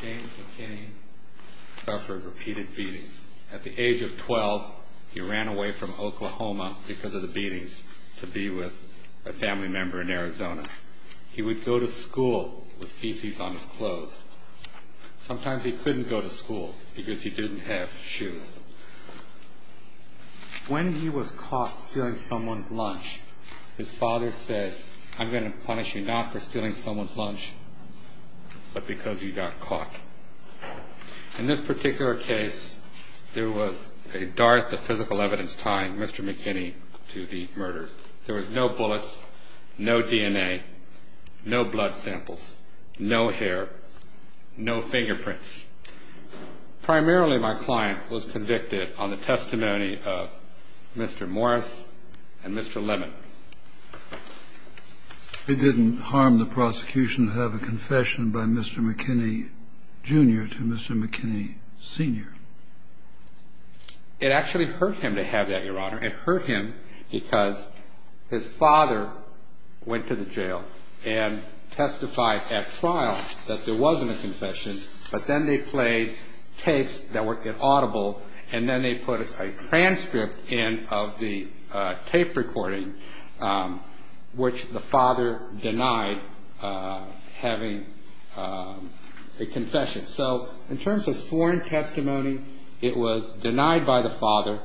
James McKinney suffered repeated beatings. At the age of 12, he ran away from Oklahoma because of the beatings to be with a family member in Arizona. He would go to school with feces on his clothes. Sometimes he couldn't go to school because he didn't have shoes. When he was caught stealing someone's lunch, his father said, I'm going to punish you not for stealing someone's lunch, but because you got caught. In this particular case, there was a dart of physical evidence tying Mr. McKinney to the murder. There was no bullets, no DNA, no blood samples, no hair, no fingerprints. Primarily, my client was convicted on the testimony of Mr. Morris and Mr. Lemon. It didn't harm the prosecution to have a confession by Mr. McKinney Jr. to Mr. McKinney Sr. It actually hurt him to have that, Your Honor. It hurt him because his father went to the jail and testified at trial that there wasn't a confession, but then they played tapes that were audible, and then they put a transcript in of the tape recording, which the father denied having a confession. So in terms of sworn testimony, it was denied by the father.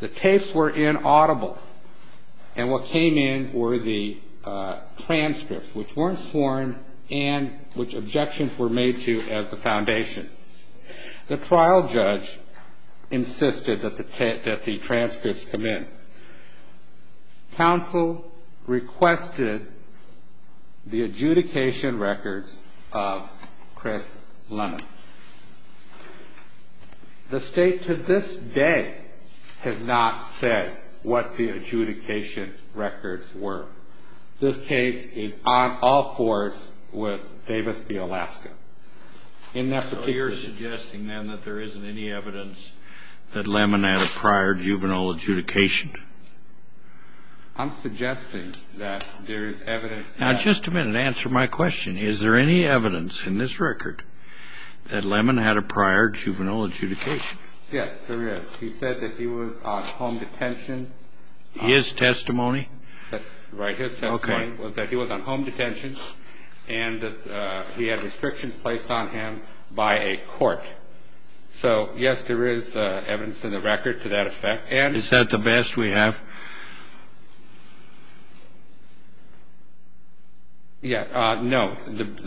The tapes were inaudible, and what came in were the transcripts, which weren't sworn and which objections were made to as the foundation. The trial judge insisted that the transcripts come in. Counsel requested the adjudication records of Chris Lemon. The state to this day has not said what the adjudication records were. This case is on all fours with Davis v. Alaska. So you're suggesting, then, that there isn't any evidence that Lemon had a prior juvenile adjudication? I'm suggesting that there is evidence. Now, just a minute. Answer my question. Is there any evidence in this record that Lemon had a prior juvenile adjudication? Yes, there is. He said that he was on home detention. His testimony? That's right. His testimony was that he was on home detention and that he had restrictions placed on him by a court. So, yes, there is evidence in the record to that effect. Is that the best we have? Yes. No.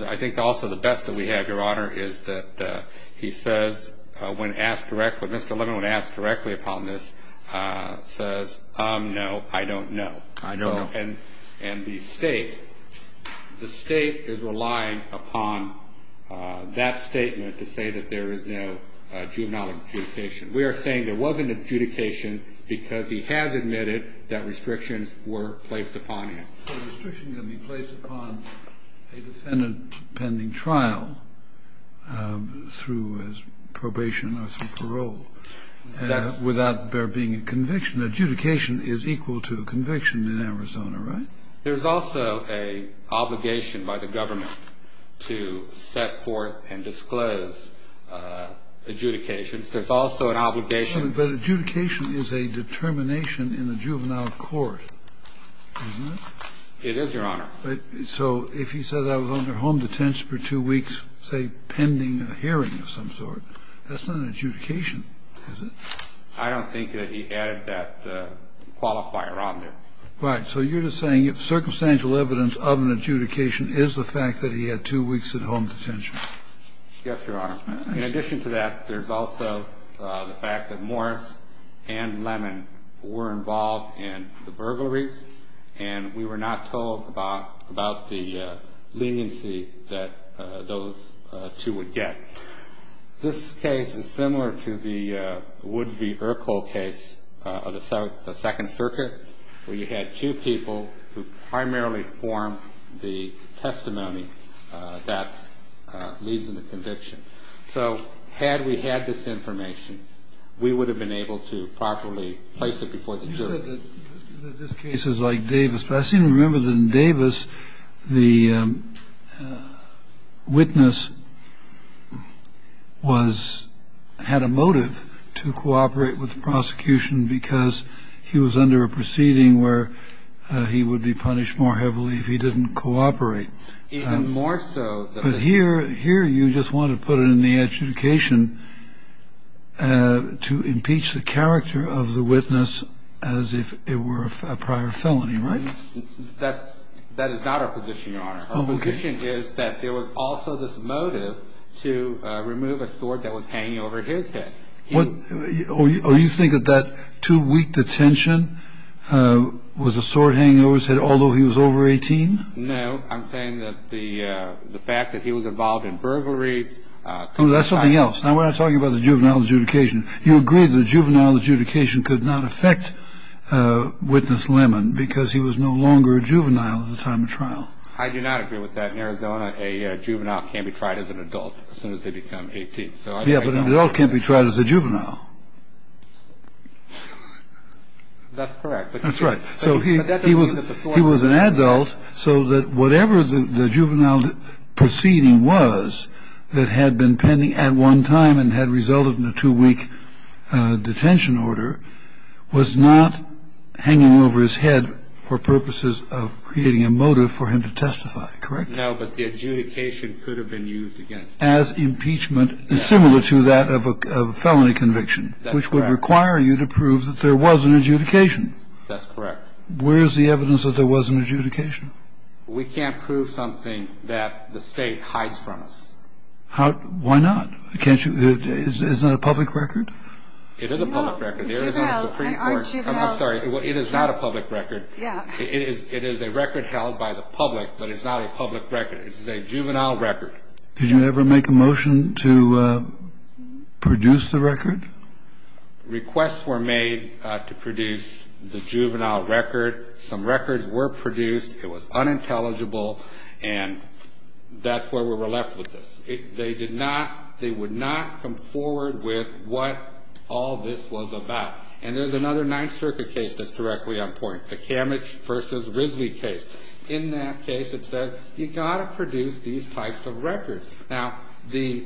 I think also the best that we have, Your Honor, is that he says, when asked directly, Mr. Lemon, when asked directly upon this, says, no, I don't know. I don't know. And the state, the state is relying upon that statement to say that there is no juvenile adjudication. We are saying there was an adjudication because he has admitted that restrictions were placed upon him. So restrictions can be placed upon a defendant pending trial through his probation or through parole without there being a conviction. Adjudication is equal to conviction in Arizona, right? There's also an obligation by the government to set forth and disclose adjudications. There's also an obligation. But adjudication is a determination in the juvenile court, isn't it? It is, Your Honor. So if he says I was under home detention for two weeks, say, pending a hearing of some sort, that's not an adjudication, is it? I don't think that he added that qualifier on there. Right. So you're just saying circumstantial evidence of an adjudication is the fact that he had two weeks in home detention. Yes, Your Honor. In addition to that, there's also the fact that Morris and Lemon were involved in the burglaries, and we were not told about the leniency that those two would get. This case is similar to the Wood v. Urkel case of the Second Circuit, where you had two people who primarily formed the testimony that leads to the conviction. So had we had this information, we would have been able to properly place it before the jury. In this case, it's like Davis. But I seem to remember that in Davis, the witness had a motive to cooperate with the prosecution because he was under a proceeding where he would be punished more heavily if he didn't cooperate. Even more so. But here you just want to put it in the adjudication to impeach the character of the witness as if it were a prior felony, right? That is not our position, Your Honor. Our position is that there was also this motive to remove a sword that was hanging over his head. Or you think that that two-week detention was a sword hanging over his head, although he was over 18? No, I'm saying that the fact that he was involved in burglaries. Oh, that's something else. Now, when I'm talking about the juvenile adjudication, you agree the juvenile adjudication could not affect witness Lemon because he was no longer a juvenile at the time of trial. I do not agree with that. In Arizona, a juvenile can't be tried as an adult as soon as they become 18. Yeah, but an adult can't be tried as a juvenile. That's correct. That's right. So he was an adult so that whatever the juvenile proceeding was that had been pending at one time and had resulted in a two-week detention order was not hanging over his head for purposes of creating a motive for him to testify. Correct? No, but the adjudication could have been used against him. As impeachment, similar to that of a felony conviction. That's correct. Which would require you to prove that there was an adjudication. That's correct. Where is the evidence that there was an adjudication? We can't prove something that the State hides from us. How? Why not? Can't you? Isn't it a public record? It is a public record. No, it's not a juvenile. I'm sorry. It is not a public record. Yeah. It is a record held by the public, but it's not a public record. It is a juvenile record. Did you ever make a motion to produce the record? Requests were made to produce the juvenile record. Some records were produced. It was unintelligible, and that's where we were left with this. They did not they would not come forward with what all this was about. And there's another Ninth Circuit case that's directly on point, the Kamich v. Risley case. In that case, it said you've got to produce these types of records. Now, the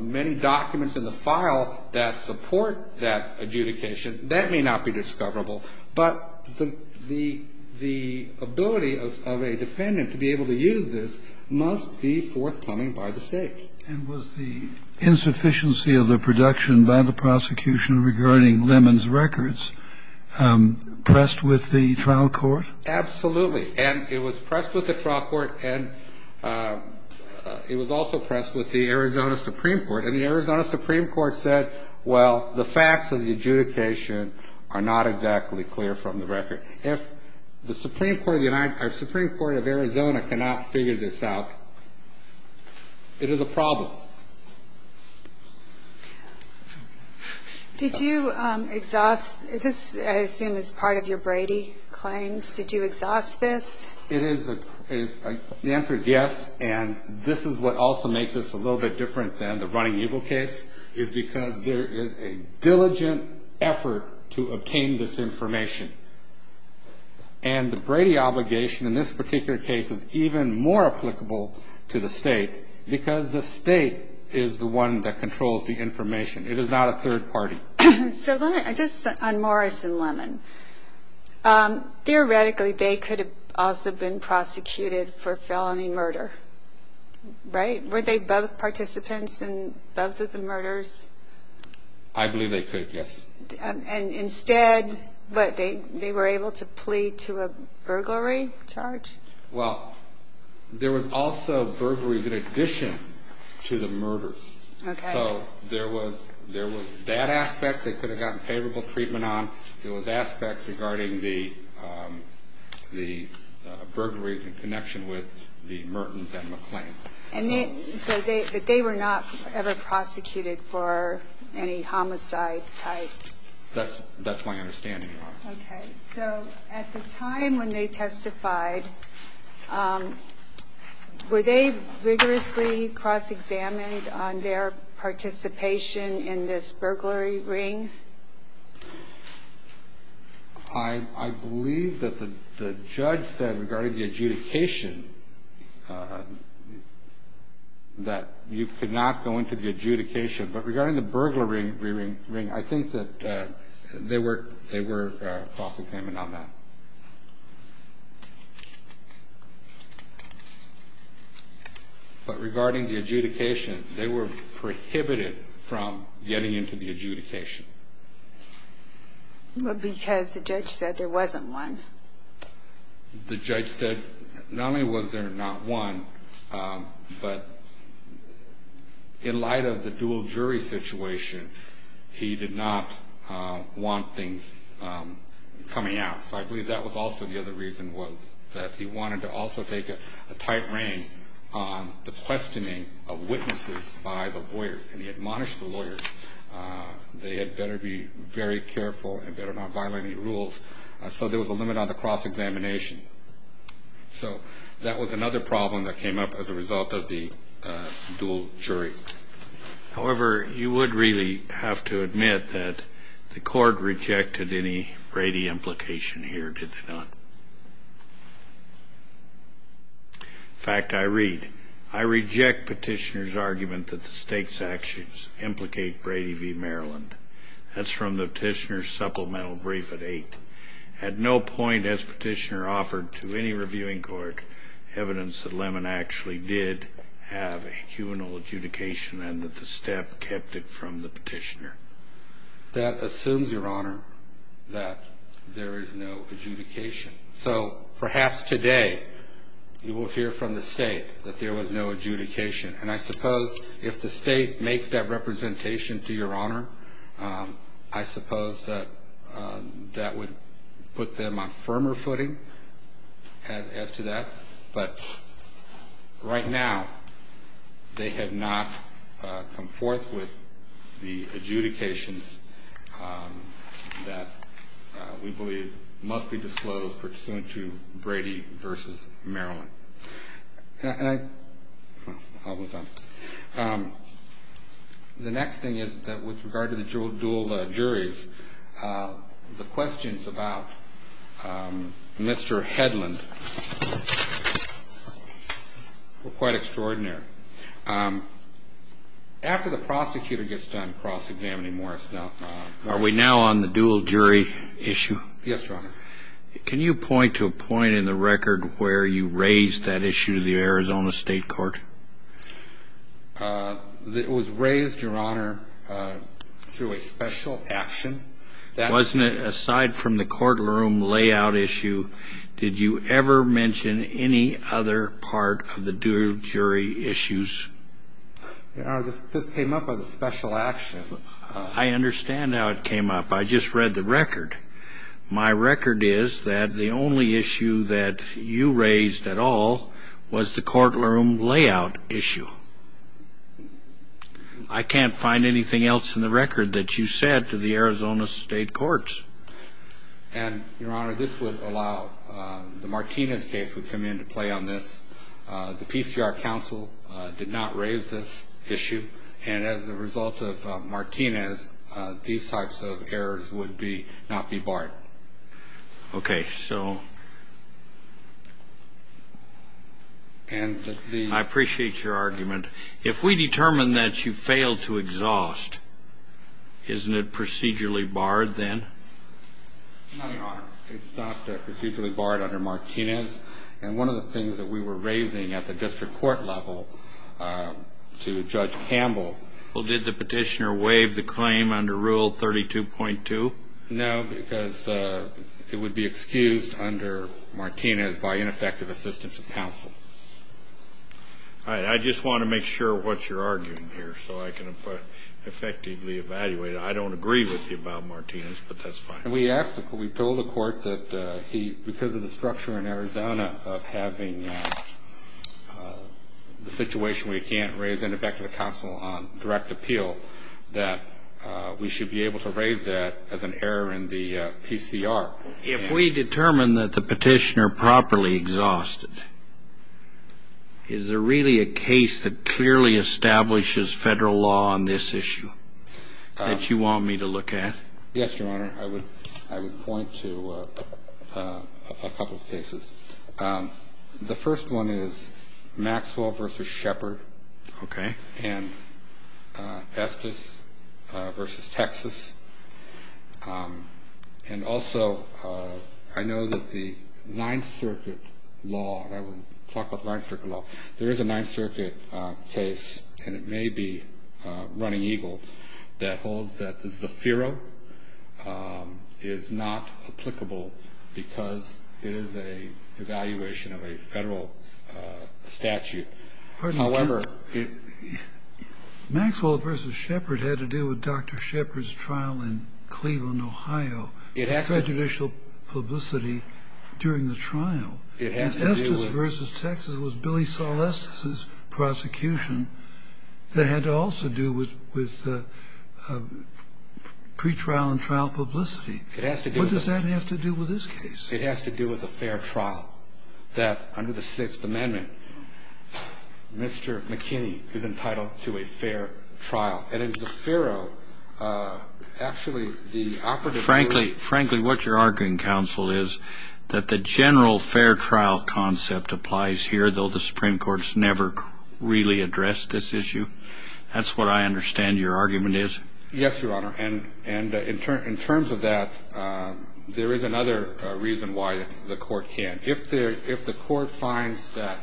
many documents in the file that support that adjudication, that may not be discoverable, but the ability of a defendant to be able to use this must be forthcoming by the State. And was the insufficiency of the production by the prosecution regarding Lemon's records pressed with the trial court? Absolutely. And it was pressed with the trial court, and it was also pressed with the Arizona Supreme Court. And the Arizona Supreme Court said, well, the facts of the adjudication are not exactly clear from the record. If the Supreme Court of Arizona cannot figure this out, it is a problem. Did you exhaust this, I assume, as part of your Brady claims? Did you exhaust this? The answer is yes. And this is what also makes this a little bit different than the Running Eagle case, is because there is a diligent effort to obtain this information. And the Brady obligation in this particular case is even more applicable to the State, because the State is the one that controls the information. It is not a third party. Just on Morris and Lemon, theoretically they could have also been prosecuted for felony murder, right? Were they both participants in both of the murders? I believe they could, yes. And instead, what, they were able to plea to a burglary charge? Well, there was also burglary in addition to the murders. Okay. So there was that aspect they could have gotten favorable treatment on. There was aspects regarding the burglaries in connection with the Mertens and McClain. So they were not ever prosecuted for any homicide type? That's my understanding, Your Honor. Okay. So at the time when they testified, were they rigorously cross-examined on their participation in this burglary ring? I believe that the judge said regarding the adjudication that you could not go into the adjudication. But regarding the burglary ring, I think that they were cross-examined on that. But regarding the adjudication, they were prohibited from getting into the adjudication. Well, because the judge said there wasn't one. The judge said not only was there not one, but in light of the dual jury situation, he did not want things coming out. So I believe that was also the other reason was that he wanted to also take a tight rein on the questioning of witnesses by the lawyers. And he admonished the lawyers. They had better be very careful and better not violate any rules. So there was a limit on the cross-examination. So that was another problem that came up as a result of the dual jury. However, you would really have to admit that the court rejected any Brady implication here, did they not? In fact, I read, I reject petitioner's argument that the state's actions implicate Brady v. Maryland. That's from the petitioner's supplemental brief at 8. At no point has petitioner offered to any reviewing court evidence that Lemon actually did have a humanoid adjudication and that the staff kept it from the petitioner. That assumes, Your Honor, that there is no adjudication. So perhaps today you will hear from the state that there was no adjudication. And I suppose if the state makes that representation, to Your Honor, I suppose that that would put them on firmer footing as to that. But right now they have not come forth with the adjudications that we believe must be disclosed pursuant to Brady v. Maryland. And I, I'll move on. The next thing is that with regard to the dual juries, the questions about Mr. Hedlund were quite extraordinary. After the prosecutor gets done cross-examining Morris. Are we now on the dual jury issue? Yes, Your Honor. Can you point to a point in the record where you raised that issue to the Arizona State Court? It was raised, Your Honor, through a special action. Wasn't it aside from the courtroom layout issue? Did you ever mention any other part of the dual jury issues? Your Honor, this came up as a special action. I understand how it came up. I just read the record. My record is that the only issue that you raised at all was the courtroom layout issue. I can't find anything else in the record that you said to the Arizona State Courts. And, Your Honor, this would allow, the Martinez case would come into play on this. The PCR counsel did not raise this issue. And as a result of Martinez, these types of errors would not be barred. Okay. So I appreciate your argument. If we determine that you failed to exhaust, isn't it procedurally barred then? No, Your Honor. It's not procedurally barred under Martinez. And one of the things that we were raising at the district court level to Judge Campbell. Well, did the petitioner waive the claim under Rule 32.2? No, because it would be excused under Martinez by ineffective assistance of counsel. All right. I just want to make sure what you're arguing here so I can effectively evaluate it. I don't agree with you about Martinez, but that's fine. And we asked, we told the court that because of the structure in Arizona of having the situation where you can't raise ineffective counsel on direct appeal, that we should be able to raise that as an error in the PCR. If we determine that the petitioner properly exhausted, is there really a case that clearly establishes federal law on this issue that you want me to look at? Yes, Your Honor. I would point to a couple of cases. The first one is Maxwell v. Shepard. Okay. And Estes v. Texas. And also, I know that the Ninth Circuit law, and I will talk about the Ninth Circuit law. There is a Ninth Circuit case, and it may be running eagle, that holds that the Zafiro is not applicable because it is an evaluation of a federal statute. However, it... Maxwell v. Shepard had to do with Dr. Shepard's trial in Cleveland, Ohio. It has to. Judicial publicity during the trial. It has to do with... It has to do with Justice Alesta's prosecution that had to also do with pretrial and trial publicity. It has to do with this. What does that have to do with this case? It has to do with a fair trial, that under the Sixth Amendment, Mr. McKinney is entitled to a fair trial. And in Zafiro, actually, the opportunity... Frankly, what you're arguing, counsel, is that the general fair trial concept applies here, though the Supreme Court has never really addressed this issue? That's what I understand your argument is. Yes, Your Honor. And in terms of that, there is another reason why the Court can't. If the Court finds that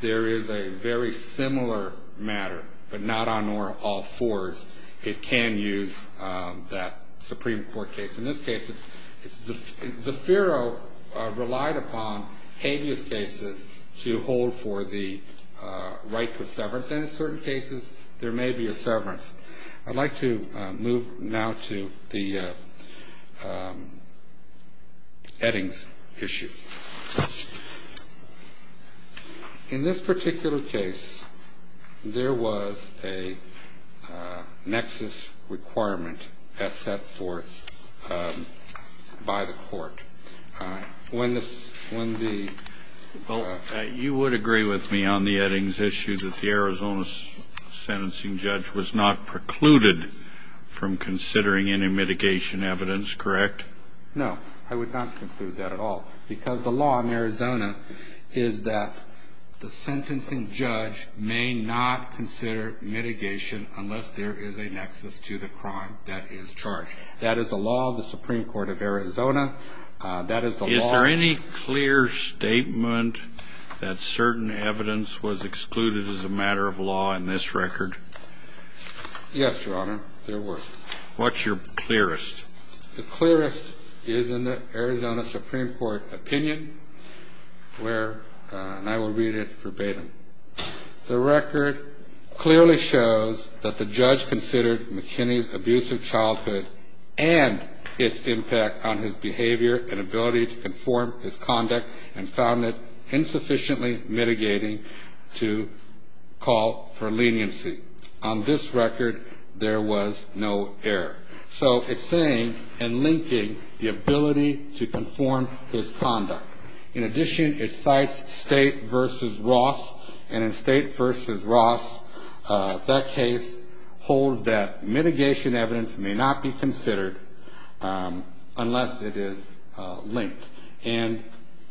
there is a very similar matter, but not on all fours, it can use that Supreme Court case. In this case, Zafiro relied upon habeas cases to hold for the right to severance, and in certain cases there may be a severance. I'd like to move now to the Eddings issue. In this particular case, there was a nexus requirement as set forth by the Court. When the... from considering any mitigation evidence, correct? No, I would not conclude that at all, because the law in Arizona is that the sentencing judge may not consider mitigation unless there is a nexus to the crime that is charged. That is the law of the Supreme Court of Arizona. Is there any clear statement that certain evidence was excluded as a matter of law in this record? Yes, Your Honor, there was. What's your clearest? The clearest is in the Arizona Supreme Court opinion where, and I will read it verbatim. The record clearly shows that the judge considered McKinney's abusive childhood and its impact on his behavior and ability to conform his conduct and found it insufficiently mitigating to call for leniency. On this record, there was no error. So it's saying and linking the ability to conform his conduct. In addition, it cites State v. Ross, and in State v. Ross, that case holds that mitigation evidence may not be considered unless it is linked. And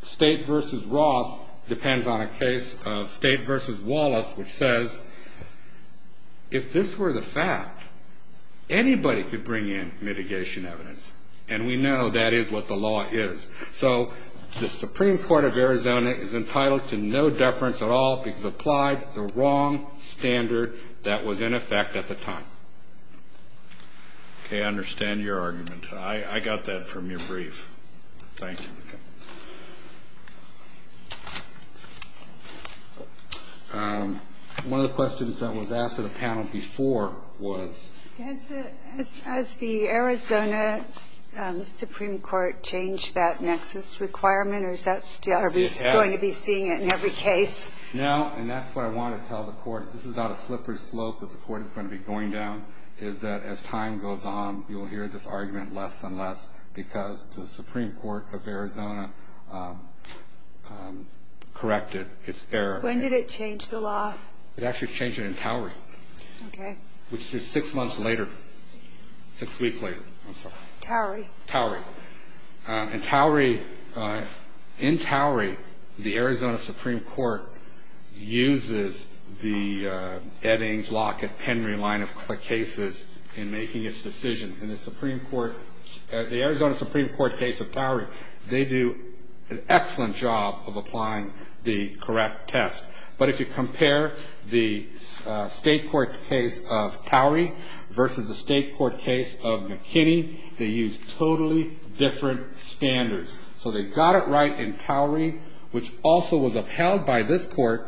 State v. Ross depends on a case of State v. Wallace, which says if this were the fact, anybody could bring in mitigation evidence, and we know that is what the law is. So the Supreme Court of Arizona is entitled to no deference at all because it applied the wrong standard that was in effect at the time. Okay, I understand your argument. I got that from your brief. Thank you. One of the questions that was asked of the panel before was? Has the Arizona Supreme Court changed that nexus requirement, or is that still? Are we going to be seeing it in every case? No, and that's what I want to tell the Court. This is not a slippery slope that the Court is going to be going down, is that as time goes on, you will hear this argument less and less because the Supreme Court of Arizona corrected its error. When did it change the law? It actually changed it in Calgary. Okay. It changed it in Calgary, which is six months later, six weeks later. I'm sorry. Towrie. Towrie. And Towrie, in Towrie, the Arizona Supreme Court uses the Eddings, Lockett, Penry line of cases in making its decision. In the Supreme Court, the Arizona Supreme Court case of Towrie, they do an excellent job of applying the correct test. But if you compare the state court case of Towrie versus the state court case of McKinney, they use totally different standards. So they got it right in Towrie, which also was upheld by this Court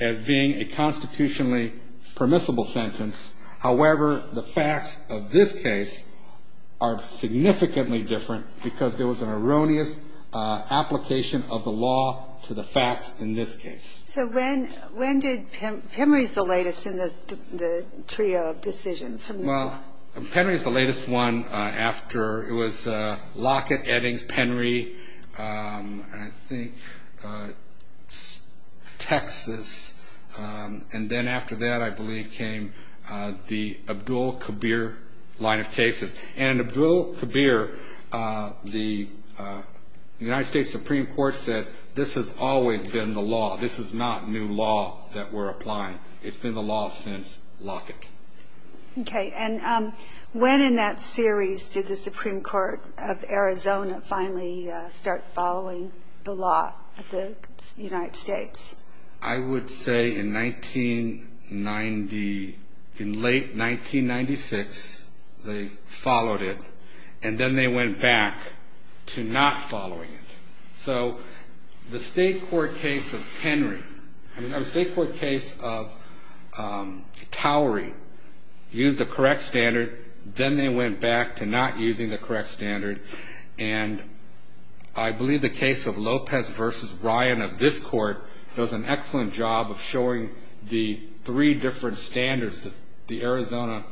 as being a constitutionally permissible sentence. However, the facts of this case are significantly different because there was an erroneous application of the law to the facts in this case. So when did Penry's the latest in the trio of decisions? Well, Penry's the latest one after it was Lockett, Eddings, Penry, I think Texas. And then after that, I believe, came the Abdul Kabir line of cases. And in Abdul Kabir, the United States Supreme Court said this has always been the law. This is not new law that we're applying. It's been the law since Lockett. Okay. And when in that series did the Supreme Court of Arizona finally start following the law of the United States? I would say in 1990, in late 1996, they followed it. And then they went back to not following it. So the state court case of Towrie used the correct standard. Then they went back to not using the correct standard. And I believe the case of Lopez v. Ryan of this court does an excellent job of showing the three different standards that the Arizona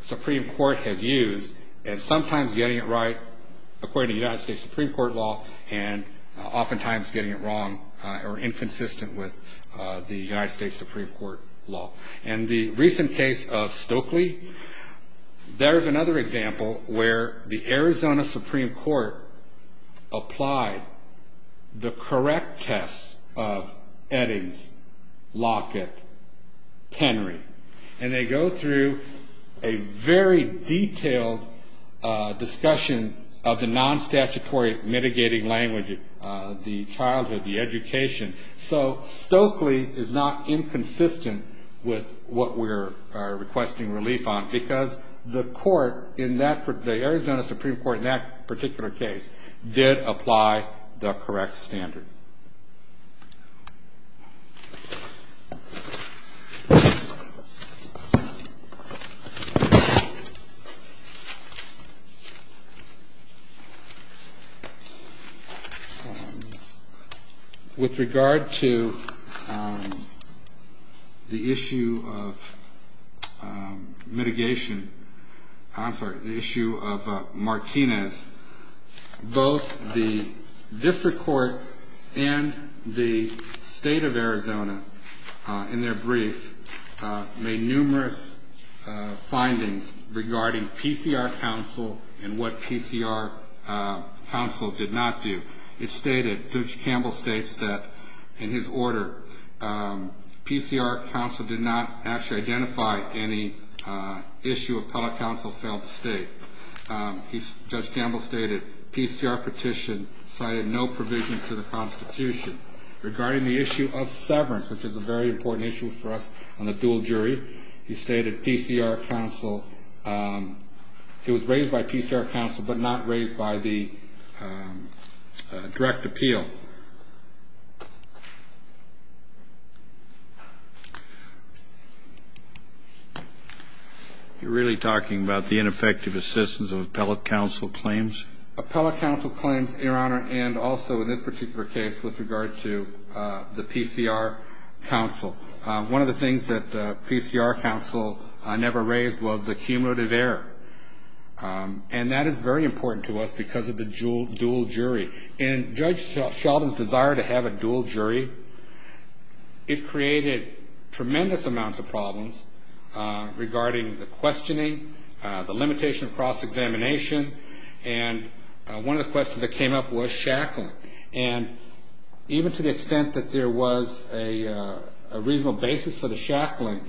Supreme Court has used, and sometimes getting it right according to the United States Supreme Court law, and oftentimes getting it wrong or inconsistent with the United States Supreme Court law. In the recent case of Stokely, there is another example where the Arizona Supreme Court applied the correct test of Eddings, Lockett, Henry. And they go through a very detailed discussion of the non-statutory mitigating language, the childhood, the education. So Stokely is not inconsistent with what we are requesting relief on, because the Arizona Supreme Court in that particular case did apply the correct standard. With regard to the issue of mitigation, I'm sorry, the issue of Martinez, both the district court and the state of Arizona, in their brief, made numerous findings regarding PCR counsel and what PCR counsel did not do. It stated, Judge Campbell states that in his order, PCR counsel did not actually identify any issue appellate counsel failed to state. Judge Campbell stated, PCR petition cited no provisions to the Constitution. Regarding the issue of severance, which is a very important issue for us on the dual jury, he stated it was raised by PCR counsel but not raised by the direct appeal. Thank you. You're really talking about the ineffective assistance of appellate counsel claims? Appellate counsel claims, Your Honor, and also in this particular case with regard to the PCR counsel. One of the things that PCR counsel never raised was the cumulative error. And that is very important to us because of the dual jury. In Judge Sheldon's desire to have a dual jury, it created tremendous amounts of problems regarding the questioning, the limitation of cross-examination, and one of the questions that came up was shackling. And even to the extent that there was a reasonable basis for the shackling,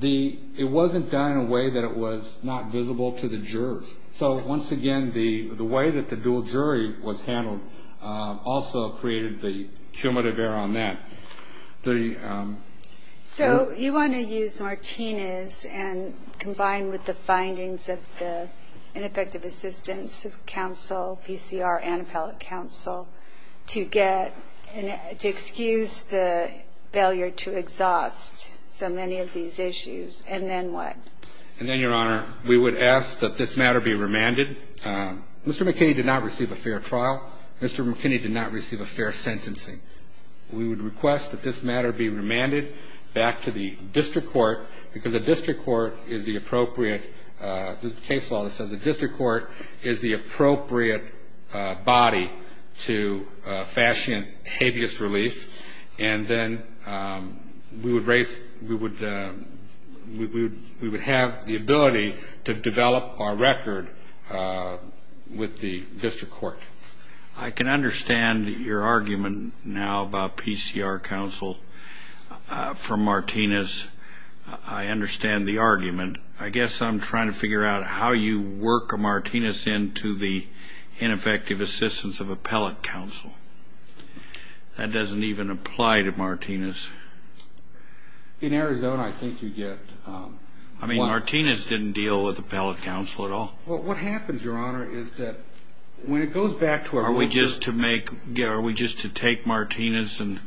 it wasn't done in a way that it was not visible to the jurors. So once again, the way that the dual jury was handled also created the cumulative error on that. So you want to use Martinez and combine with the findings of the ineffective assistance of counsel, PCR and appellate counsel, to get to excuse the failure to exhaust so many of these issues, and then what? And then, Your Honor, we would ask that this matter be remanded. Mr. McKinney did not receive a fair trial. Mr. McKinney did not receive a fair sentencing. We would request that this matter be remanded back to the district court because a district court is the appropriate – there's a case law that says a district court is the appropriate body to fashion habeas relief. And then we would have the ability to develop our record with the district court. I can understand your argument now about PCR counsel from Martinez. I understand the argument. I guess I'm trying to figure out how you work a Martinez into the ineffective assistance of appellate counsel. That doesn't even apply to Martinez. In Arizona, I think you get – I mean, Martinez didn't deal with appellate counsel at all. Well, what happens, Your Honor, is that when it goes back to our – Are we just to make – are we just to take Martinez and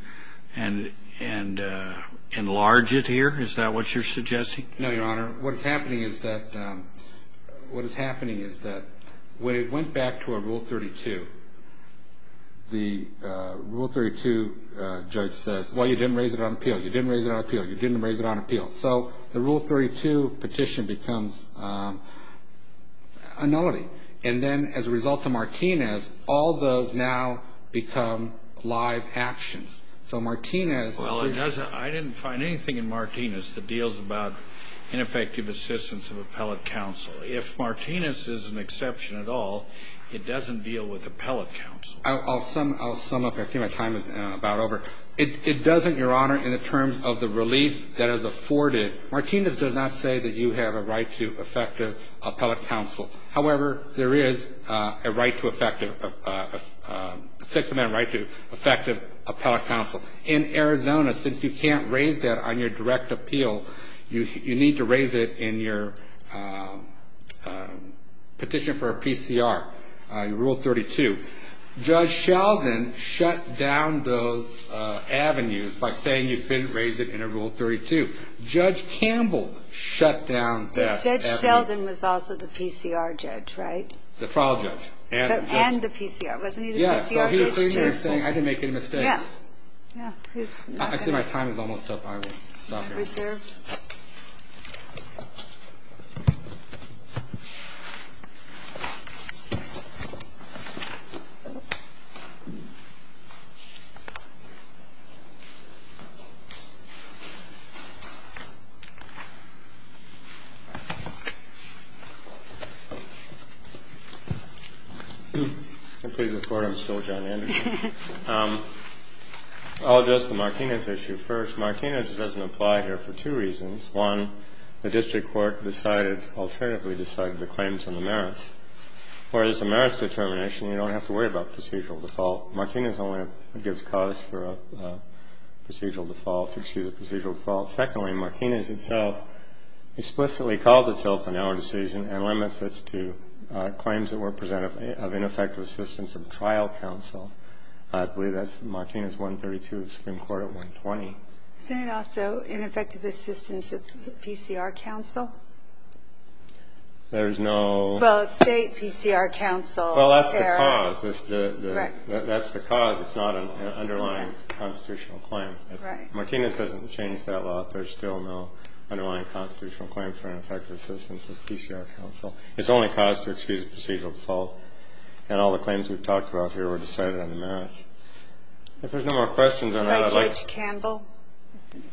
enlarge it here? Is that what you're suggesting? No, Your Honor. Your Honor, what is happening is that when it went back to a Rule 32, the Rule 32 judge says, well, you didn't raise it on appeal, you didn't raise it on appeal, you didn't raise it on appeal. So the Rule 32 petition becomes a nullity. And then as a result of Martinez, all those now become live actions. So Martinez – Well, it doesn't – I didn't find anything in Martinez that deals about ineffective assistance of appellate counsel. If Martinez is an exception at all, it doesn't deal with appellate counsel. I'll sum up. I see my time is about over. It doesn't, Your Honor, in the terms of the relief that is afforded. Martinez does not say that you have a right to effective appellate counsel. However, there is a right to effective – six-amendment right to effective appellate counsel. In Arizona, since you can't raise that on your direct appeal, you need to raise it in your petition for a PCR, Rule 32. Judge Sheldon shut down those avenues by saying you couldn't raise it in a Rule 32. Judge Campbell shut down that avenue. Judge Sheldon was also the PCR judge, right? The trial judge. And the PCR. Wasn't he the PCR judge, too? I didn't make any mistakes. Yeah. Yeah. I see my time is almost up. I will stop here. Reserve. I'll address the Martinez issue first. First, Martinez doesn't apply here for two reasons. One, the district court decided, alternatively decided, the claims and the merits. Whereas the merits determination, you don't have to worry about procedural default. Martinez only gives cause for a procedural default, excuse me, procedural default. Secondly, Martinez itself explicitly called itself a narrow decision and limits this to claims that were presented of ineffective assistance of trial counsel. I believe that's Martinez 132, Supreme Court at 120. Isn't it also ineffective assistance of PCR counsel? There's no... Well, it's state PCR counsel. Well, that's the cause. That's the cause. It's not an underlying constitutional claim. Martinez doesn't change that law. There's still no underlying constitutional claim for ineffective assistance of PCR counsel. It's only cause to excuse procedural default. And all the claims we've talked about here were decided on the merits. If there's no more questions on that, I'd like... By Judge Campbell?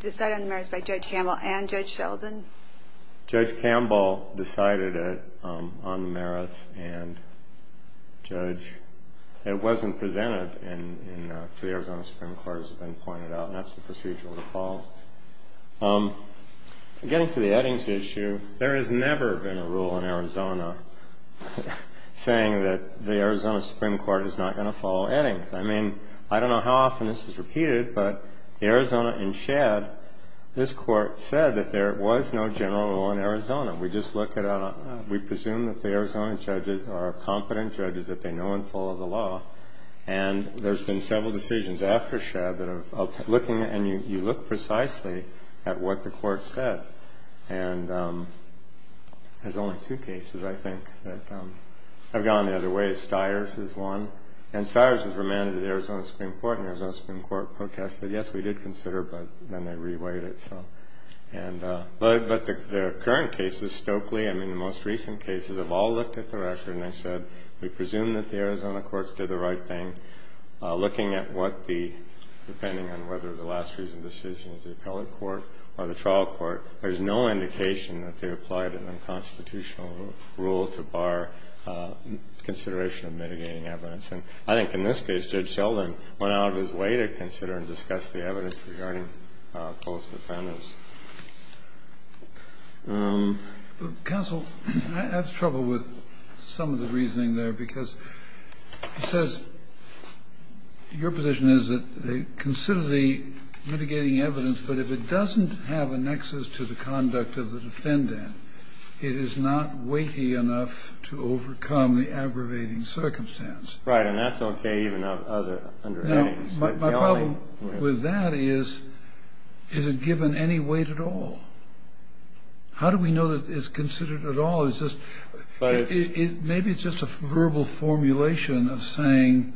Decided on the merits by Judge Campbell and Judge Sheldon? Judge Campbell decided it on the merits and Judge... It wasn't presented to the Arizona Supreme Court, as has been pointed out, and that's the procedural default. Getting to the Eddings issue, there has never been a rule in Arizona saying that the Arizona Supreme Court is not going to follow Eddings. I mean, I don't know how often this is repeated, but Arizona in Shad, this Court said that there was no general rule in Arizona. We just look at a... We presume that the Arizona judges are competent judges, that they know and follow the law. And there's been several decisions after Shad that are looking... And you look precisely at what the Court said. And there's only two cases, I think, that have gone the other way. Stiers is one. And Stiers was remanded to the Arizona Supreme Court, and the Arizona Supreme Court protested, yes, we did consider, but then they reweighed it. But the current cases, Stokely, I mean, the most recent cases, have all looked at the record, and they said, we presume that the Arizona courts did the right thing, looking at what the... There is no indication that they applied an unconstitutional rule to bar consideration of mitigating evidence. And I think in this case, Judge Sheldon went out of his way to consider and discuss the evidence regarding false defendants. Kennedy. Counsel, I have trouble with some of the reasoning there, because it says your position is that they consider the mitigating evidence, but if it doesn't have a nexus to the conduct of the defendant, it is not weighty enough to overcome the aggravating circumstance. Right, and that's okay even under headings. My problem with that is, is it given any weight at all? How do we know that it's considered at all? Maybe it's just a verbal formulation of saying,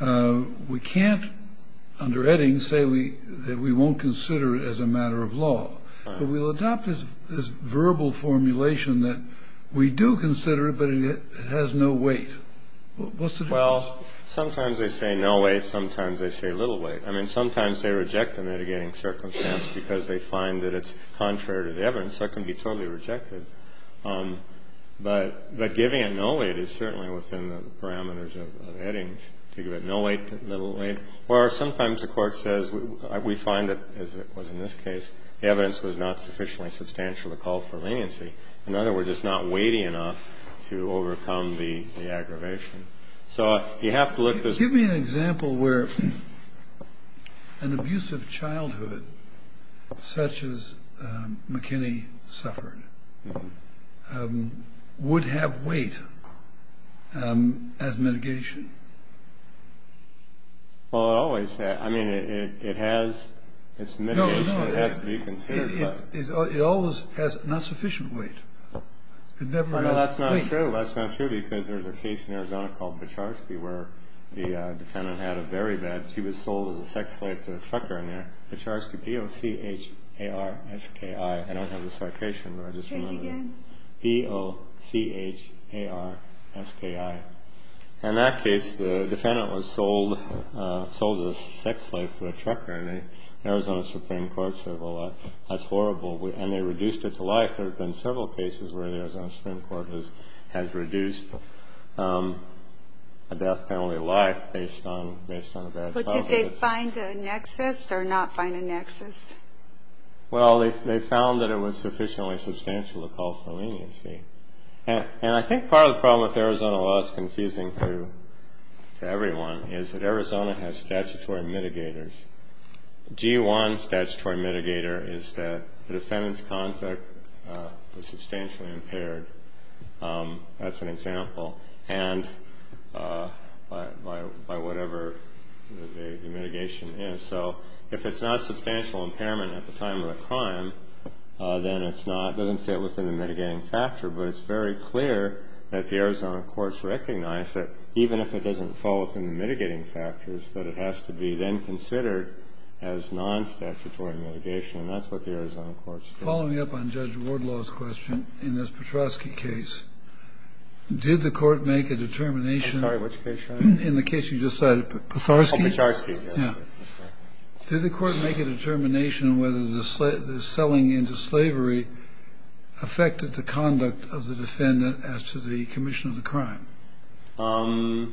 we can't, under headings, say that we won't consider it as a matter of law. But we'll adopt this verbal formulation that we do consider it, but it has no weight. What's the difference? Well, sometimes they say no weight, sometimes they say little weight. I mean, sometimes they reject the mitigating circumstance because they find that it's contrary to the evidence. That can be totally rejected. But giving it no weight is certainly within the parameters of headings, to give it no weight, little weight. Or sometimes the court says, we find that, as it was in this case, the evidence was not sufficiently substantial to call for leniency. In other words, it's not weighty enough to overcome the aggravation. So you have to look at this. Give me an example where an abusive childhood, such as McKinney suffered, would have weight as mitigation. Well, it always has. I mean, it has its mitigation. It has to be considered. It always has not sufficient weight. That's not true. Well, that's not true because there's a case in Arizona called Becharski where the defendant had a very bad, she was sold as a sex slave to a trucker. Becharski, B-O-C-H-A-R-S-K-I. I don't have the citation, but I just remember it. Take it again. B-O-C-H-A-R-S-K-I. In that case, the defendant was sold as a sex slave to a trucker, and the Arizona Supreme Court said, well, that's horrible, and they reduced her to life. In fact, there have been several cases where the Arizona Supreme Court has reduced a death penalty to life based on a bad childhood. But did they find a nexus or not find a nexus? Well, they found that it was sufficiently substantial to call for leniency. And I think part of the problem with Arizona law that's confusing to everyone is that Arizona has statutory mitigators. G-1 statutory mitigator is that the defendant's conduct was substantially impaired. That's an example. And by whatever the mitigation is. So if it's not substantial impairment at the time of the crime, then it's not, it doesn't fit within the mitigating factor. But it's very clear that the Arizona courts recognize that even if it doesn't fall within the mitigating factors, that it has to be then considered as non-statutory mitigation. And that's what the Arizona courts do. Following up on Judge Wardlaw's question, in this Petrosky case, did the court make a determination? I'm sorry, which case are you on? Petrosky. Oh, Petrosky, yes. Did the court make a determination whether the selling into slavery affected the conduct of the defendant as to the commission of the crime? I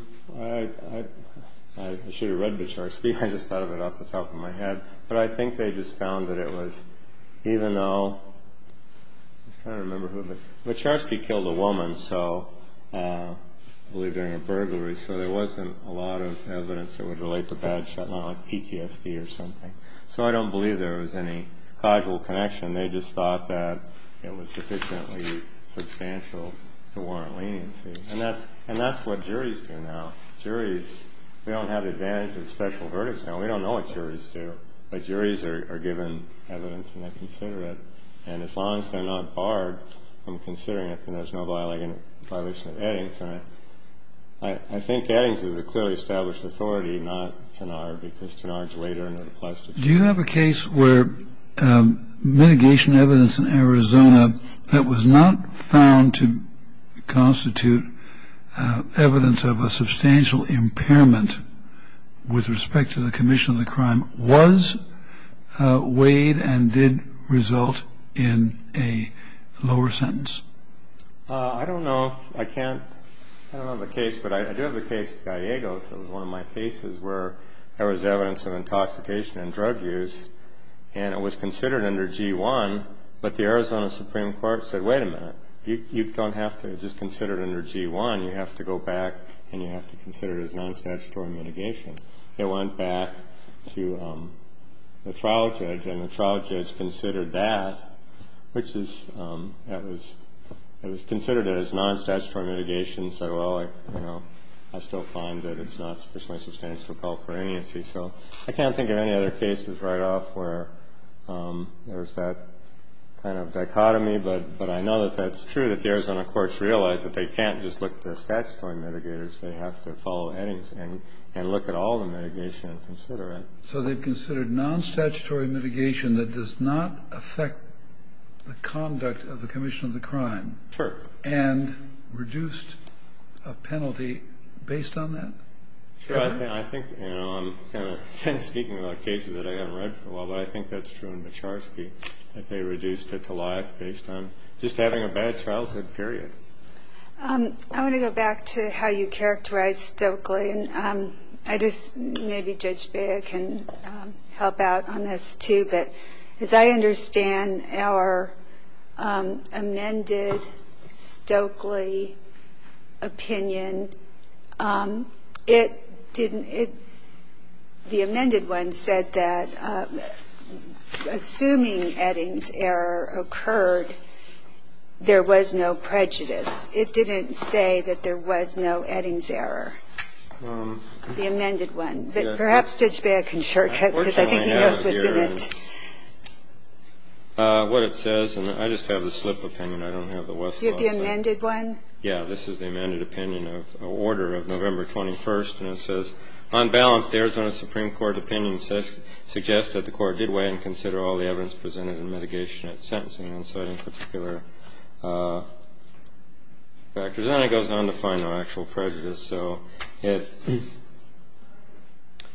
should have read Petrosky. I just thought of it off the top of my head. But I think they just found that it was, even though, I'm trying to remember who it was. Petrosky killed a woman, I believe during a burglary, so there wasn't a lot of evidence that would relate to bad shot, like PTSD or something. So I don't believe there was any causal connection. They just thought that it was sufficiently substantial to warrant leniency. And that's what juries do now. Juries, we don't have the advantage of special verdicts now. We don't know what juries do. But juries are given evidence and they consider it. And as long as they're not barred from considering it, then there's no violation of Eddings. And I think Eddings is a clearly established authority, not Tanar, because Tanar is later in the plastic case. Do you have a case where mitigation evidence in Arizona that was not found to constitute evidence of a substantial impairment with respect to the commission of the crime was weighed and did result in a lower sentence? I don't know. I can't. I don't have a case. But I do have the case of Gallegos. It was one of my cases where there was evidence of intoxication and drug use, and it was considered under G-1, but the Arizona Supreme Court said, wait a minute, you don't have to just consider it under G-1. You have to go back and you have to consider it as non-statutory mitigation. It went back to the trial judge, and the trial judge considered that, which is it was considered as non-statutory mitigation. So, well, you know, I still find that it's not sufficiently substantial to call for amnesty. So I can't think of any other cases right off where there's that kind of dichotomy. But I know that that's true, that the Arizona courts realize that they can't just look at the statutory mitigators. They have to follow Eddings and look at all the mitigation and consider it. So they've considered non-statutory mitigation that does not affect the conduct of the commission of the crime. Sure. And reduced a penalty based on that? Sure. I think, you know, I'm kind of speaking about cases that I haven't read for a while, but I think that's true in Bacharski that they reduced it to life based on just having a bad childhood period. I want to go back to how you characterized Stokely. And I just maybe Judge Bea can help out on this, too. But as I understand our amended Stokely opinion, it didn't – the amended one said that assuming Eddings' error occurred, there was no prejudice. It didn't say that there was no Eddings' error. The amended one. Perhaps Judge Bea can shortcut, because I think he knows what's in it. What it says, and I just have the slip opinion. I don't have the Westall. Do you have the amended one? Yeah. This is the amended opinion of order of November 21st. And it says, on balance, the Arizona Supreme Court opinion suggests that the Court did weigh and consider all the evidence presented in mitigation at sentencing and citing particular factors. And it goes on to find no actual prejudice. So it –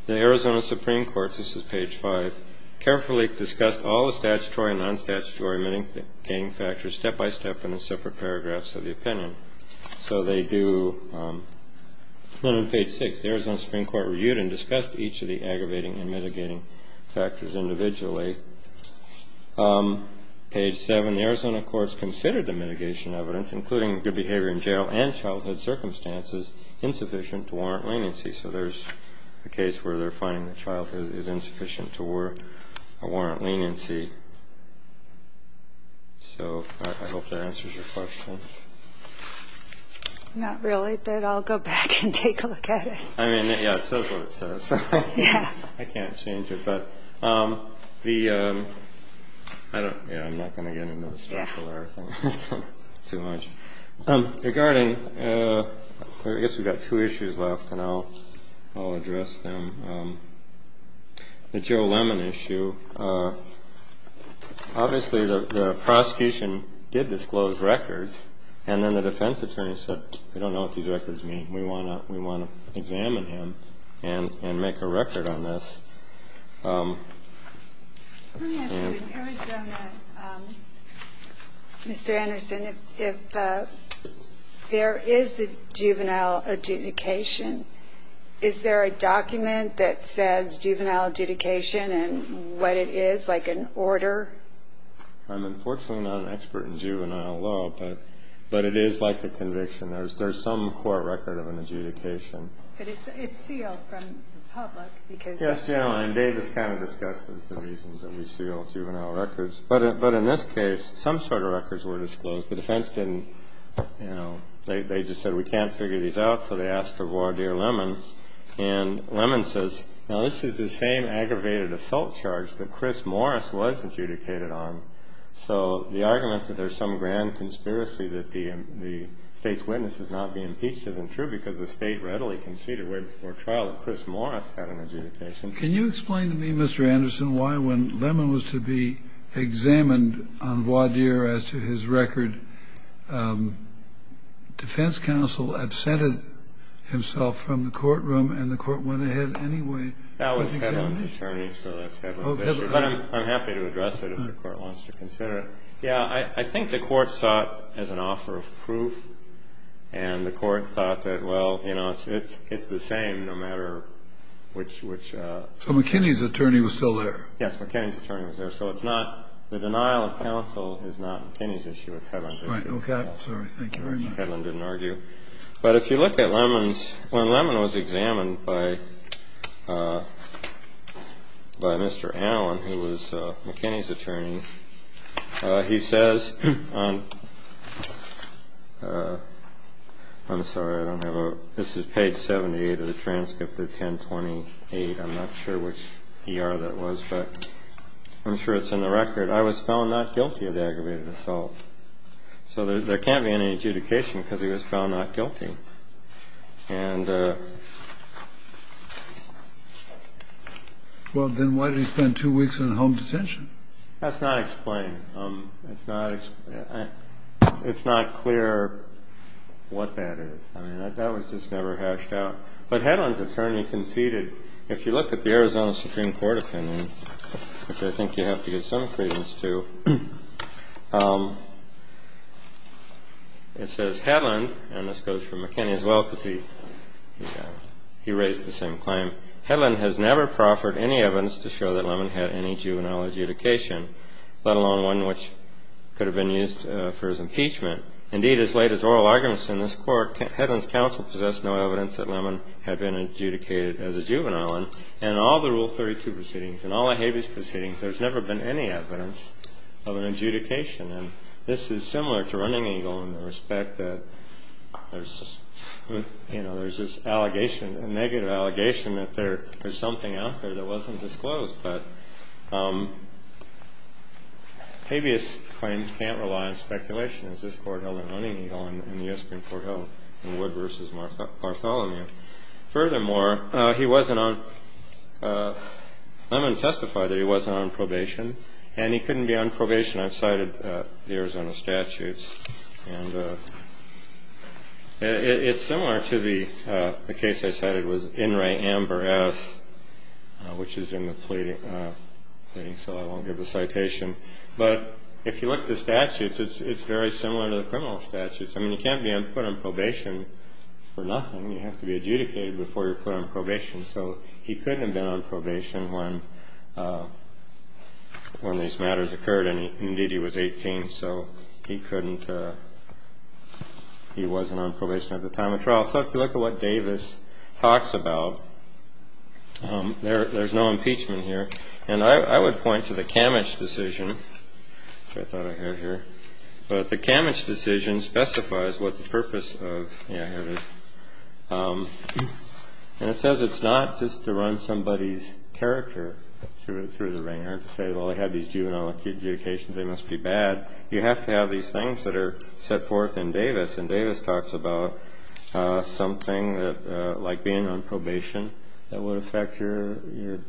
the Arizona Supreme Court, this is page 5, carefully discussed all the statutory and non-statutory mitigating factors step by step in the separate paragraphs of the opinion. So they do – and then on page 6, the Arizona Supreme Court reviewed and discussed each of the aggravating and mitigating factors individually. Page 7, the Arizona courts considered the mitigation evidence, including good behavior in jail and childhood circumstances, insufficient to warrant leniency. So there's a case where they're finding that childhood is insufficient to warrant leniency. So I hope that answers your question. Not really, but I'll go back and take a look at it. I mean, yeah, it says what it says. Yeah. I can't change it. But the – I don't – yeah, I'm not going to get into the specular thing too much. Regarding – I guess we've got two issues left, and I'll address them. The Joe Lemon issue, obviously the prosecution did disclose records, and then the defense attorney said, we don't know what these records mean. We want to examine him and make a record on this. Let me ask you, in Arizona, Mr. Anderson, if there is a juvenile adjudication, is there a document that says juvenile adjudication and what it is, like an order? I'm unfortunately not an expert in juvenile law, but it is like a conviction. There's some core record of an adjudication. But it's sealed from the public because – Yes, General, and Dave has kind of discussed the reasons that we seal juvenile records. But in this case, some sort of records were disclosed. The defense didn't – they just said, we can't figure these out, so they asked the voir dire Lemon. And Lemon says, now, this is the same aggravated assault charge that Chris Morris was adjudicated on. So the argument that there's some grand conspiracy that the State's witness is not being impeached isn't true because the State readily conceded way before trial that Chris Morris had an adjudication. Can you explain to me, Mr. Anderson, why when Lemon was to be examined on voir dire as to his record, defense counsel absented himself from the courtroom and the court went ahead anyway? That was Hedlund's attorney, so that's Hedlund's issue. But I'm happy to address it if the Court wants to consider it. Yeah. I think the Court saw it as an offer of proof, and the Court thought that, well, you know, it's the same no matter which – So McKinney's attorney was still there. Yes. McKinney's attorney was there. So it's not – the denial of counsel is not McKinney's issue. It's Hedlund's issue. Thank you very much. Hedlund didn't argue. But if you look at Lemon's – when Lemon was examined by Mr. Allen, who was McKinney's attorney, he says on – I'm sorry, I don't have a – this is page 78 of the transcript of 1028. I'm not sure which ER that was, but I'm sure it's in the record. I was found not guilty of the aggravated assault. So there can't be any adjudication because he was found not guilty. And – Well, then why did he spend two weeks in home detention? That's not explained. It's not – it's not clear what that is. I mean, that was just never hashed out. But Hedlund's attorney conceded – if you look at the Arizona Supreme Court opinion, which I think you have to give some credence to, it says, Hedlund – and this goes for McKinney as well because he raised the same claim – Hedlund has never proffered any evidence to show that Lemon had any juvenile adjudication, let alone one which could have been used for his impeachment. Indeed, as late as oral arguments in this Court, Hedlund's counsel possessed no evidence that Lemon had been adjudicated as a juvenile. And in all the Rule 32 proceedings and all the habeas proceedings, there's never been any evidence of an adjudication. And this is similar to Running Eagle in the respect that there's, you know, there's this allegation, a negative allegation that there's something out there that wasn't disclosed. But habeas claims can't rely on speculation, as this Court held in Running Eagle and the U.S. Supreme Court held in Wood v. Bartholomew. Furthermore, he wasn't on – Lemon testified that he wasn't on probation, and he couldn't be on probation outside of the Arizona statutes. And it's similar to the case I cited with In re Amber S, which is in the pleading, so I won't give the citation. But if you look at the statutes, it's very similar to the criminal statutes. I mean, you can't be put on probation for nothing. You have to be adjudicated before you're put on probation. So he couldn't have been on probation when these matters occurred. And, indeed, he was 18, so he couldn't – he wasn't on probation at the time of trial. So if you look at what Davis talks about, there's no impeachment here. And I would point to the Kamich decision, which I thought I had here. But the Kamich decision specifies what the purpose of – yeah, here it is. And it says it's not just to run somebody's character through the ring, or to say, well, they had these juvenile adjudications, they must be bad. You have to have these things that are set forth in Davis. And Davis talks about something like being on probation that would affect your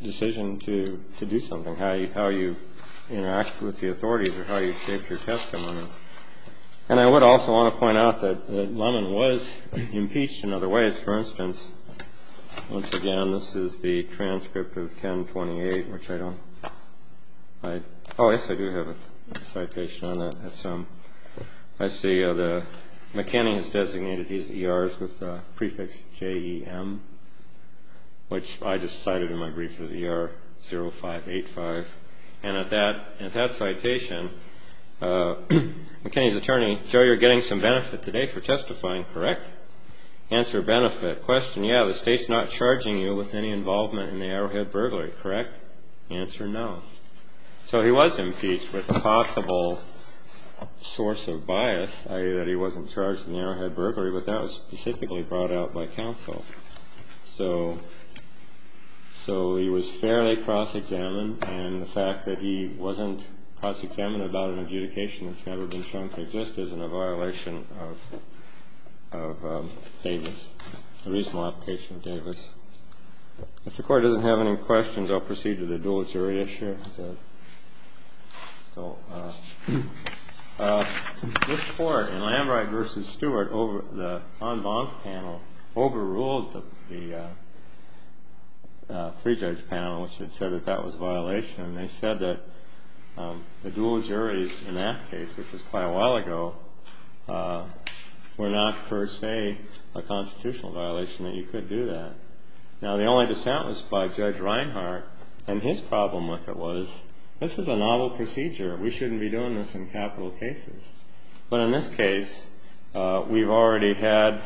decision to do something, or how you interact with the authorities, or how you shape your testimony. And I would also want to point out that Lemon was impeached in other ways. For instance, once again, this is the transcript of 1028, which I don't – oh, yes, I do have a citation on that. I see McKinney has designated his ERs with the prefix J-E-M, which I just cited in my brief as ER0585. And at that citation, McKinney's attorney, Joe, you're getting some benefit today for testifying, correct? Answer, benefit. Question, yeah, the state's not charging you with any involvement in the Arrowhead burglary, correct? Answer, no. So he was impeached with a possible source of bias, i.e. that he wasn't charged in the Arrowhead burglary, but that was specifically brought out by counsel. So he was fairly cross-examined, and the fact that he wasn't cross-examined about an adjudication that's never been shown to exist isn't a violation of Davis, a reasonable application of Davis. If the Court doesn't have any questions, I'll proceed to the dual jury issue. So this Court, in Lambright v. Stewart, the en banc panel overruled the three-judge panel, which had said that that was a violation, and they said that the dual juries in that case, which was quite a while ago, were not, per se, a constitutional violation, that you could do that. Now, the only dissent was by Judge Reinhart, and his problem with it was, this is a novel procedure. We shouldn't be doing this in capital cases. But in this case, we've already had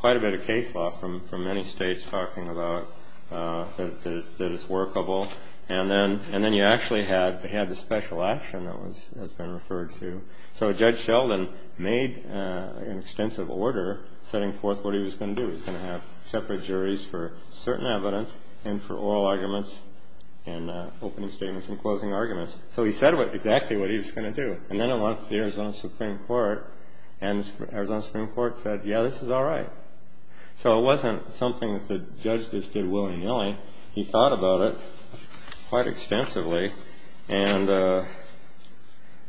quite a bit of case law from many states talking about that it's workable, and then you actually had the special action that has been referred to. So Judge Sheldon made an extensive order setting forth what he was going to do. He was going to have separate juries for certain evidence and for oral arguments and opening statements and closing arguments. So he said exactly what he was going to do. And then it went to the Arizona Supreme Court, and the Arizona Supreme Court said, yeah, this is all right. So it wasn't something that the judge just did willy-nilly. He thought about it quite extensively, and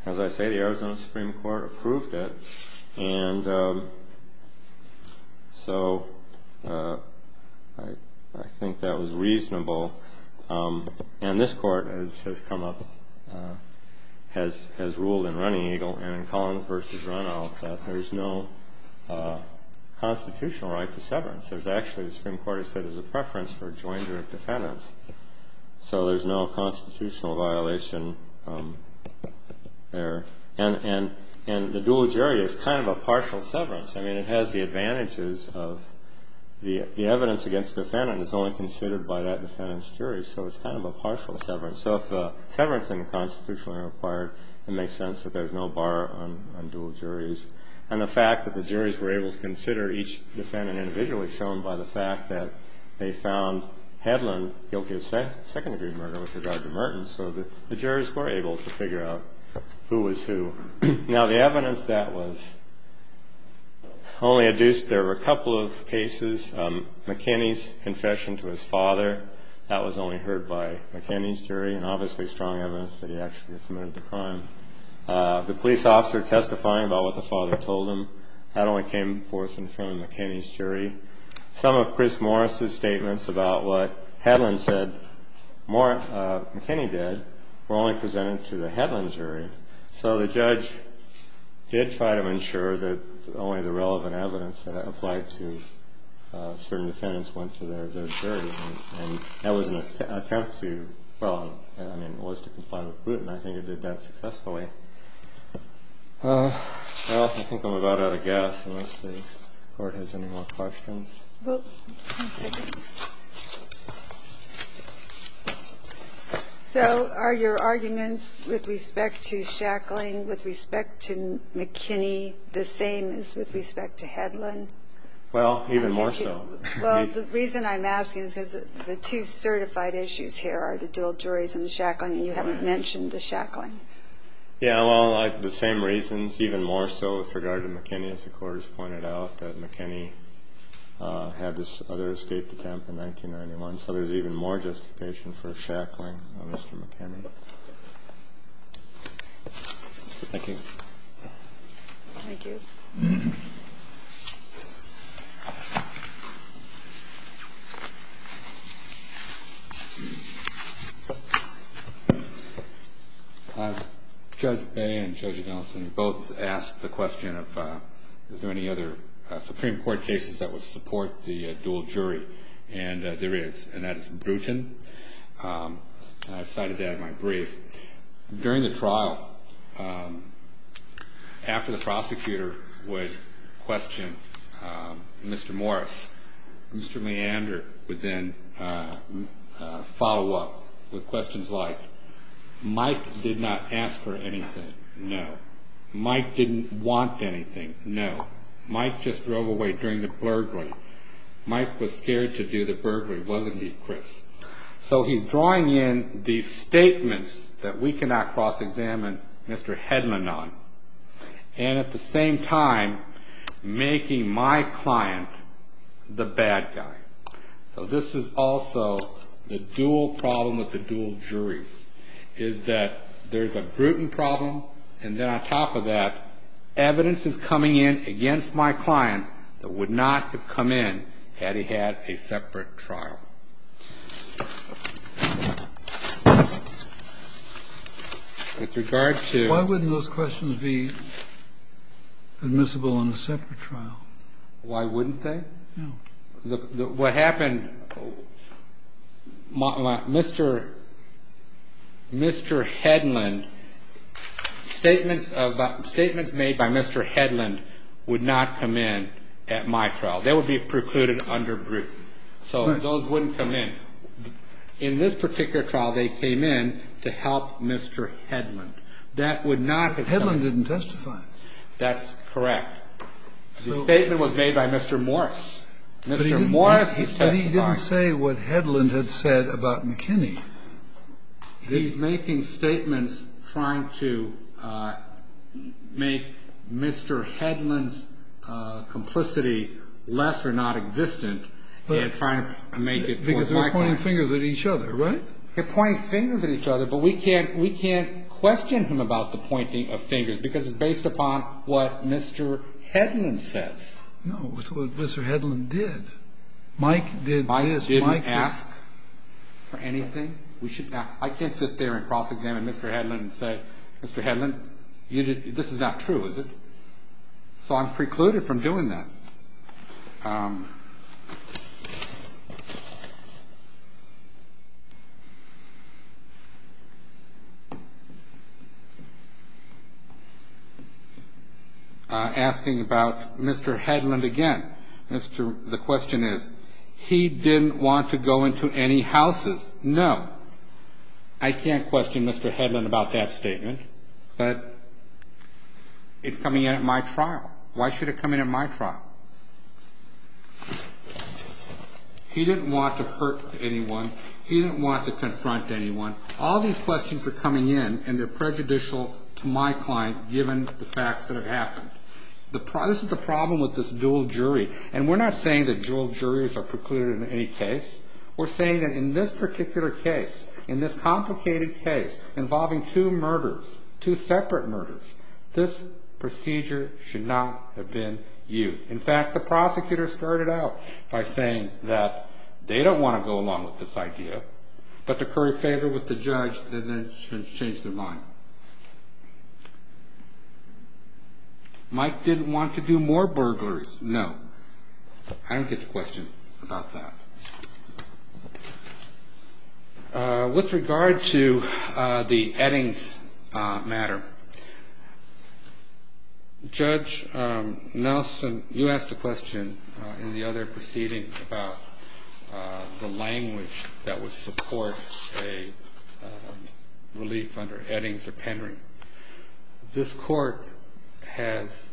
as I say, the Arizona Supreme Court approved it. And so I think that was reasonable. And this Court, as has come up, has ruled in Running Eagle and in Collins v. Runoff that there's no constitutional right to severance. There's actually, the Supreme Court has said, there's a preference for a joint jury of defendants. So there's no constitutional violation there. And the dual jury is kind of a partial severance. I mean, it has the advantages of the evidence against defendant is only considered by that defendant's jury. So it's kind of a partial severance. So if the severance in the Constitution are required, it makes sense that there's no bar on dual juries. And the fact that the juries were able to consider each defendant individually is shown by the fact that they found Hedlund guilty of second-degree murder with regard to Merton. So the jurors were able to figure out who was who. Now, the evidence that was only adduced, there were a couple of cases. McKinney's confession to his father, that was only heard by McKinney's jury, and obviously strong evidence that he actually committed the crime. The police officer testifying about what the father told him, that only came forth in front of McKinney's jury. Some of Chris Morris' statements about what Hedlund said, McKinney did, were only presented to the Hedlund jury. So the judge did try to ensure that only the relevant evidence that applied to certain defendants went to their jury. And that was an attempt to, well, I mean, it was to comply with Bruton. I think it did that successfully. Okay. Well, I think I'm about out of gas. Let's see if the Court has any more questions. Well, one second. So are your arguments with respect to Shackling, with respect to McKinney, the same as with respect to Hedlund? Well, even more so. Well, the reason I'm asking is because the two certified issues here are the dual juries and the Shackling, and you haven't mentioned the Shackling. Yeah, well, the same reasons, even more so with regard to McKinney, as the Court has pointed out, that McKinney had this other escaped attempt in 1991. So there's even more justification for Shackling on Mr. McKinney. Thank you. Thank you. Judge Bay and Judge Nelson both asked the question of, is there any other Supreme Court cases that would support the dual jury? And there is, and that is Bruton. And I cited that in my brief. During the trial, after the prosecutor would question Mr. Morris, Mr. Meander would then follow up with questions like, Mike did not ask for anything. No. Mike didn't want anything. No. Mike just drove away during the burglary. Mike was scared to do the burglary, wasn't he, Chris? So he's drawing in these statements that we cannot cross-examine Mr. Headland on, and at the same time making my client the bad guy. So this is also the dual problem with the dual jury, is that there's a Bruton problem, and then on top of that, evidence is coming in against my client that would not have come in had he had a separate trial. With regard to the dual jury, there's a Bruton problem. Why wouldn't those questions be admissible in a separate trial? Why wouldn't they? No. What happened, Mr. Headland, statements made by Mr. Headland would not come in at my trial. They would be precluded under Bruton. So those wouldn't come in. In this particular trial, they came in to help Mr. Headland. That would not have come in. Headland didn't testify. That's correct. The statement was made by Mr. Morris. Mr. Morris is testifying. But he didn't say what Headland had said about McKinney. He's making statements trying to make Mr. Headland's complicity less or non-existent and trying to make it more likely. Because they're pointing fingers at each other, right? They're pointing fingers at each other, but we can't question him about the pointing of fingers because it's based upon what Mr. Headland says. No. It's what Mr. Headland did. Mike did this. He didn't ask for anything. I can't sit there and cross-examine Mr. Headland and say, Mr. Headland, this is not true, is it? So I'm precluded from doing that. Asking about Mr. Headland again. The question is, he didn't want to go into any houses? No. I can't question Mr. Headland about that statement. But it's coming in at my trial. Why should it come in at my trial? He didn't want to hurt anyone. He didn't want to confront anyone. All these questions are coming in, and they're prejudicial to my client given the facts that have happened. This is the problem with this dual jury, and we're not saying that dual juries are precluded in any case. We're saying that in this particular case, in this complicated case involving two murders, two separate murders, this procedure should not have been used. In fact, the prosecutor started out by saying that they don't want to go along with this idea, but to curry favor with the judge, they then changed their mind. Mike didn't want to do more burglaries? No. I don't get the question about that. With regard to the Eddings matter, Judge Nelson, you asked a question in the other proceeding about the language that would support a relief under Eddings or Penryn. This court has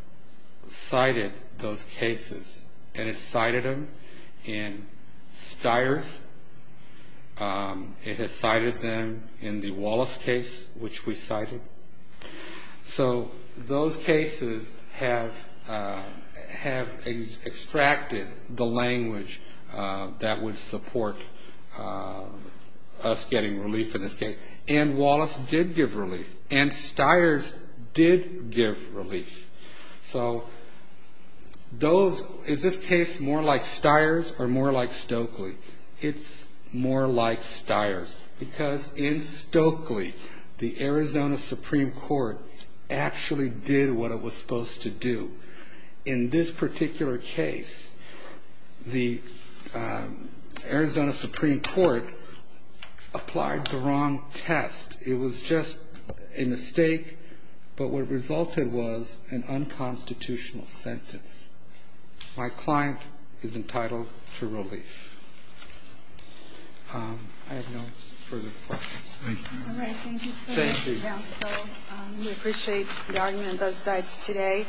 cited those cases, and it cited them in Stiers. It has cited them in the Wallace case, which we cited. So those cases have extracted the language that would support us getting relief in this case, and Wallace did give relief, and Stiers did give relief. So is this case more like Stiers or more like Stokely? It's more like Stiers because in Stokely, the Arizona Supreme Court actually did what it was supposed to do. In this particular case, the Arizona Supreme Court applied the wrong test. It was just a mistake, but what resulted was an unconstitutional sentence. My client is entitled to relief. I have no further questions. Thank you. All right. Thank you, sir. Thank you. We appreciate the argument on both sides today.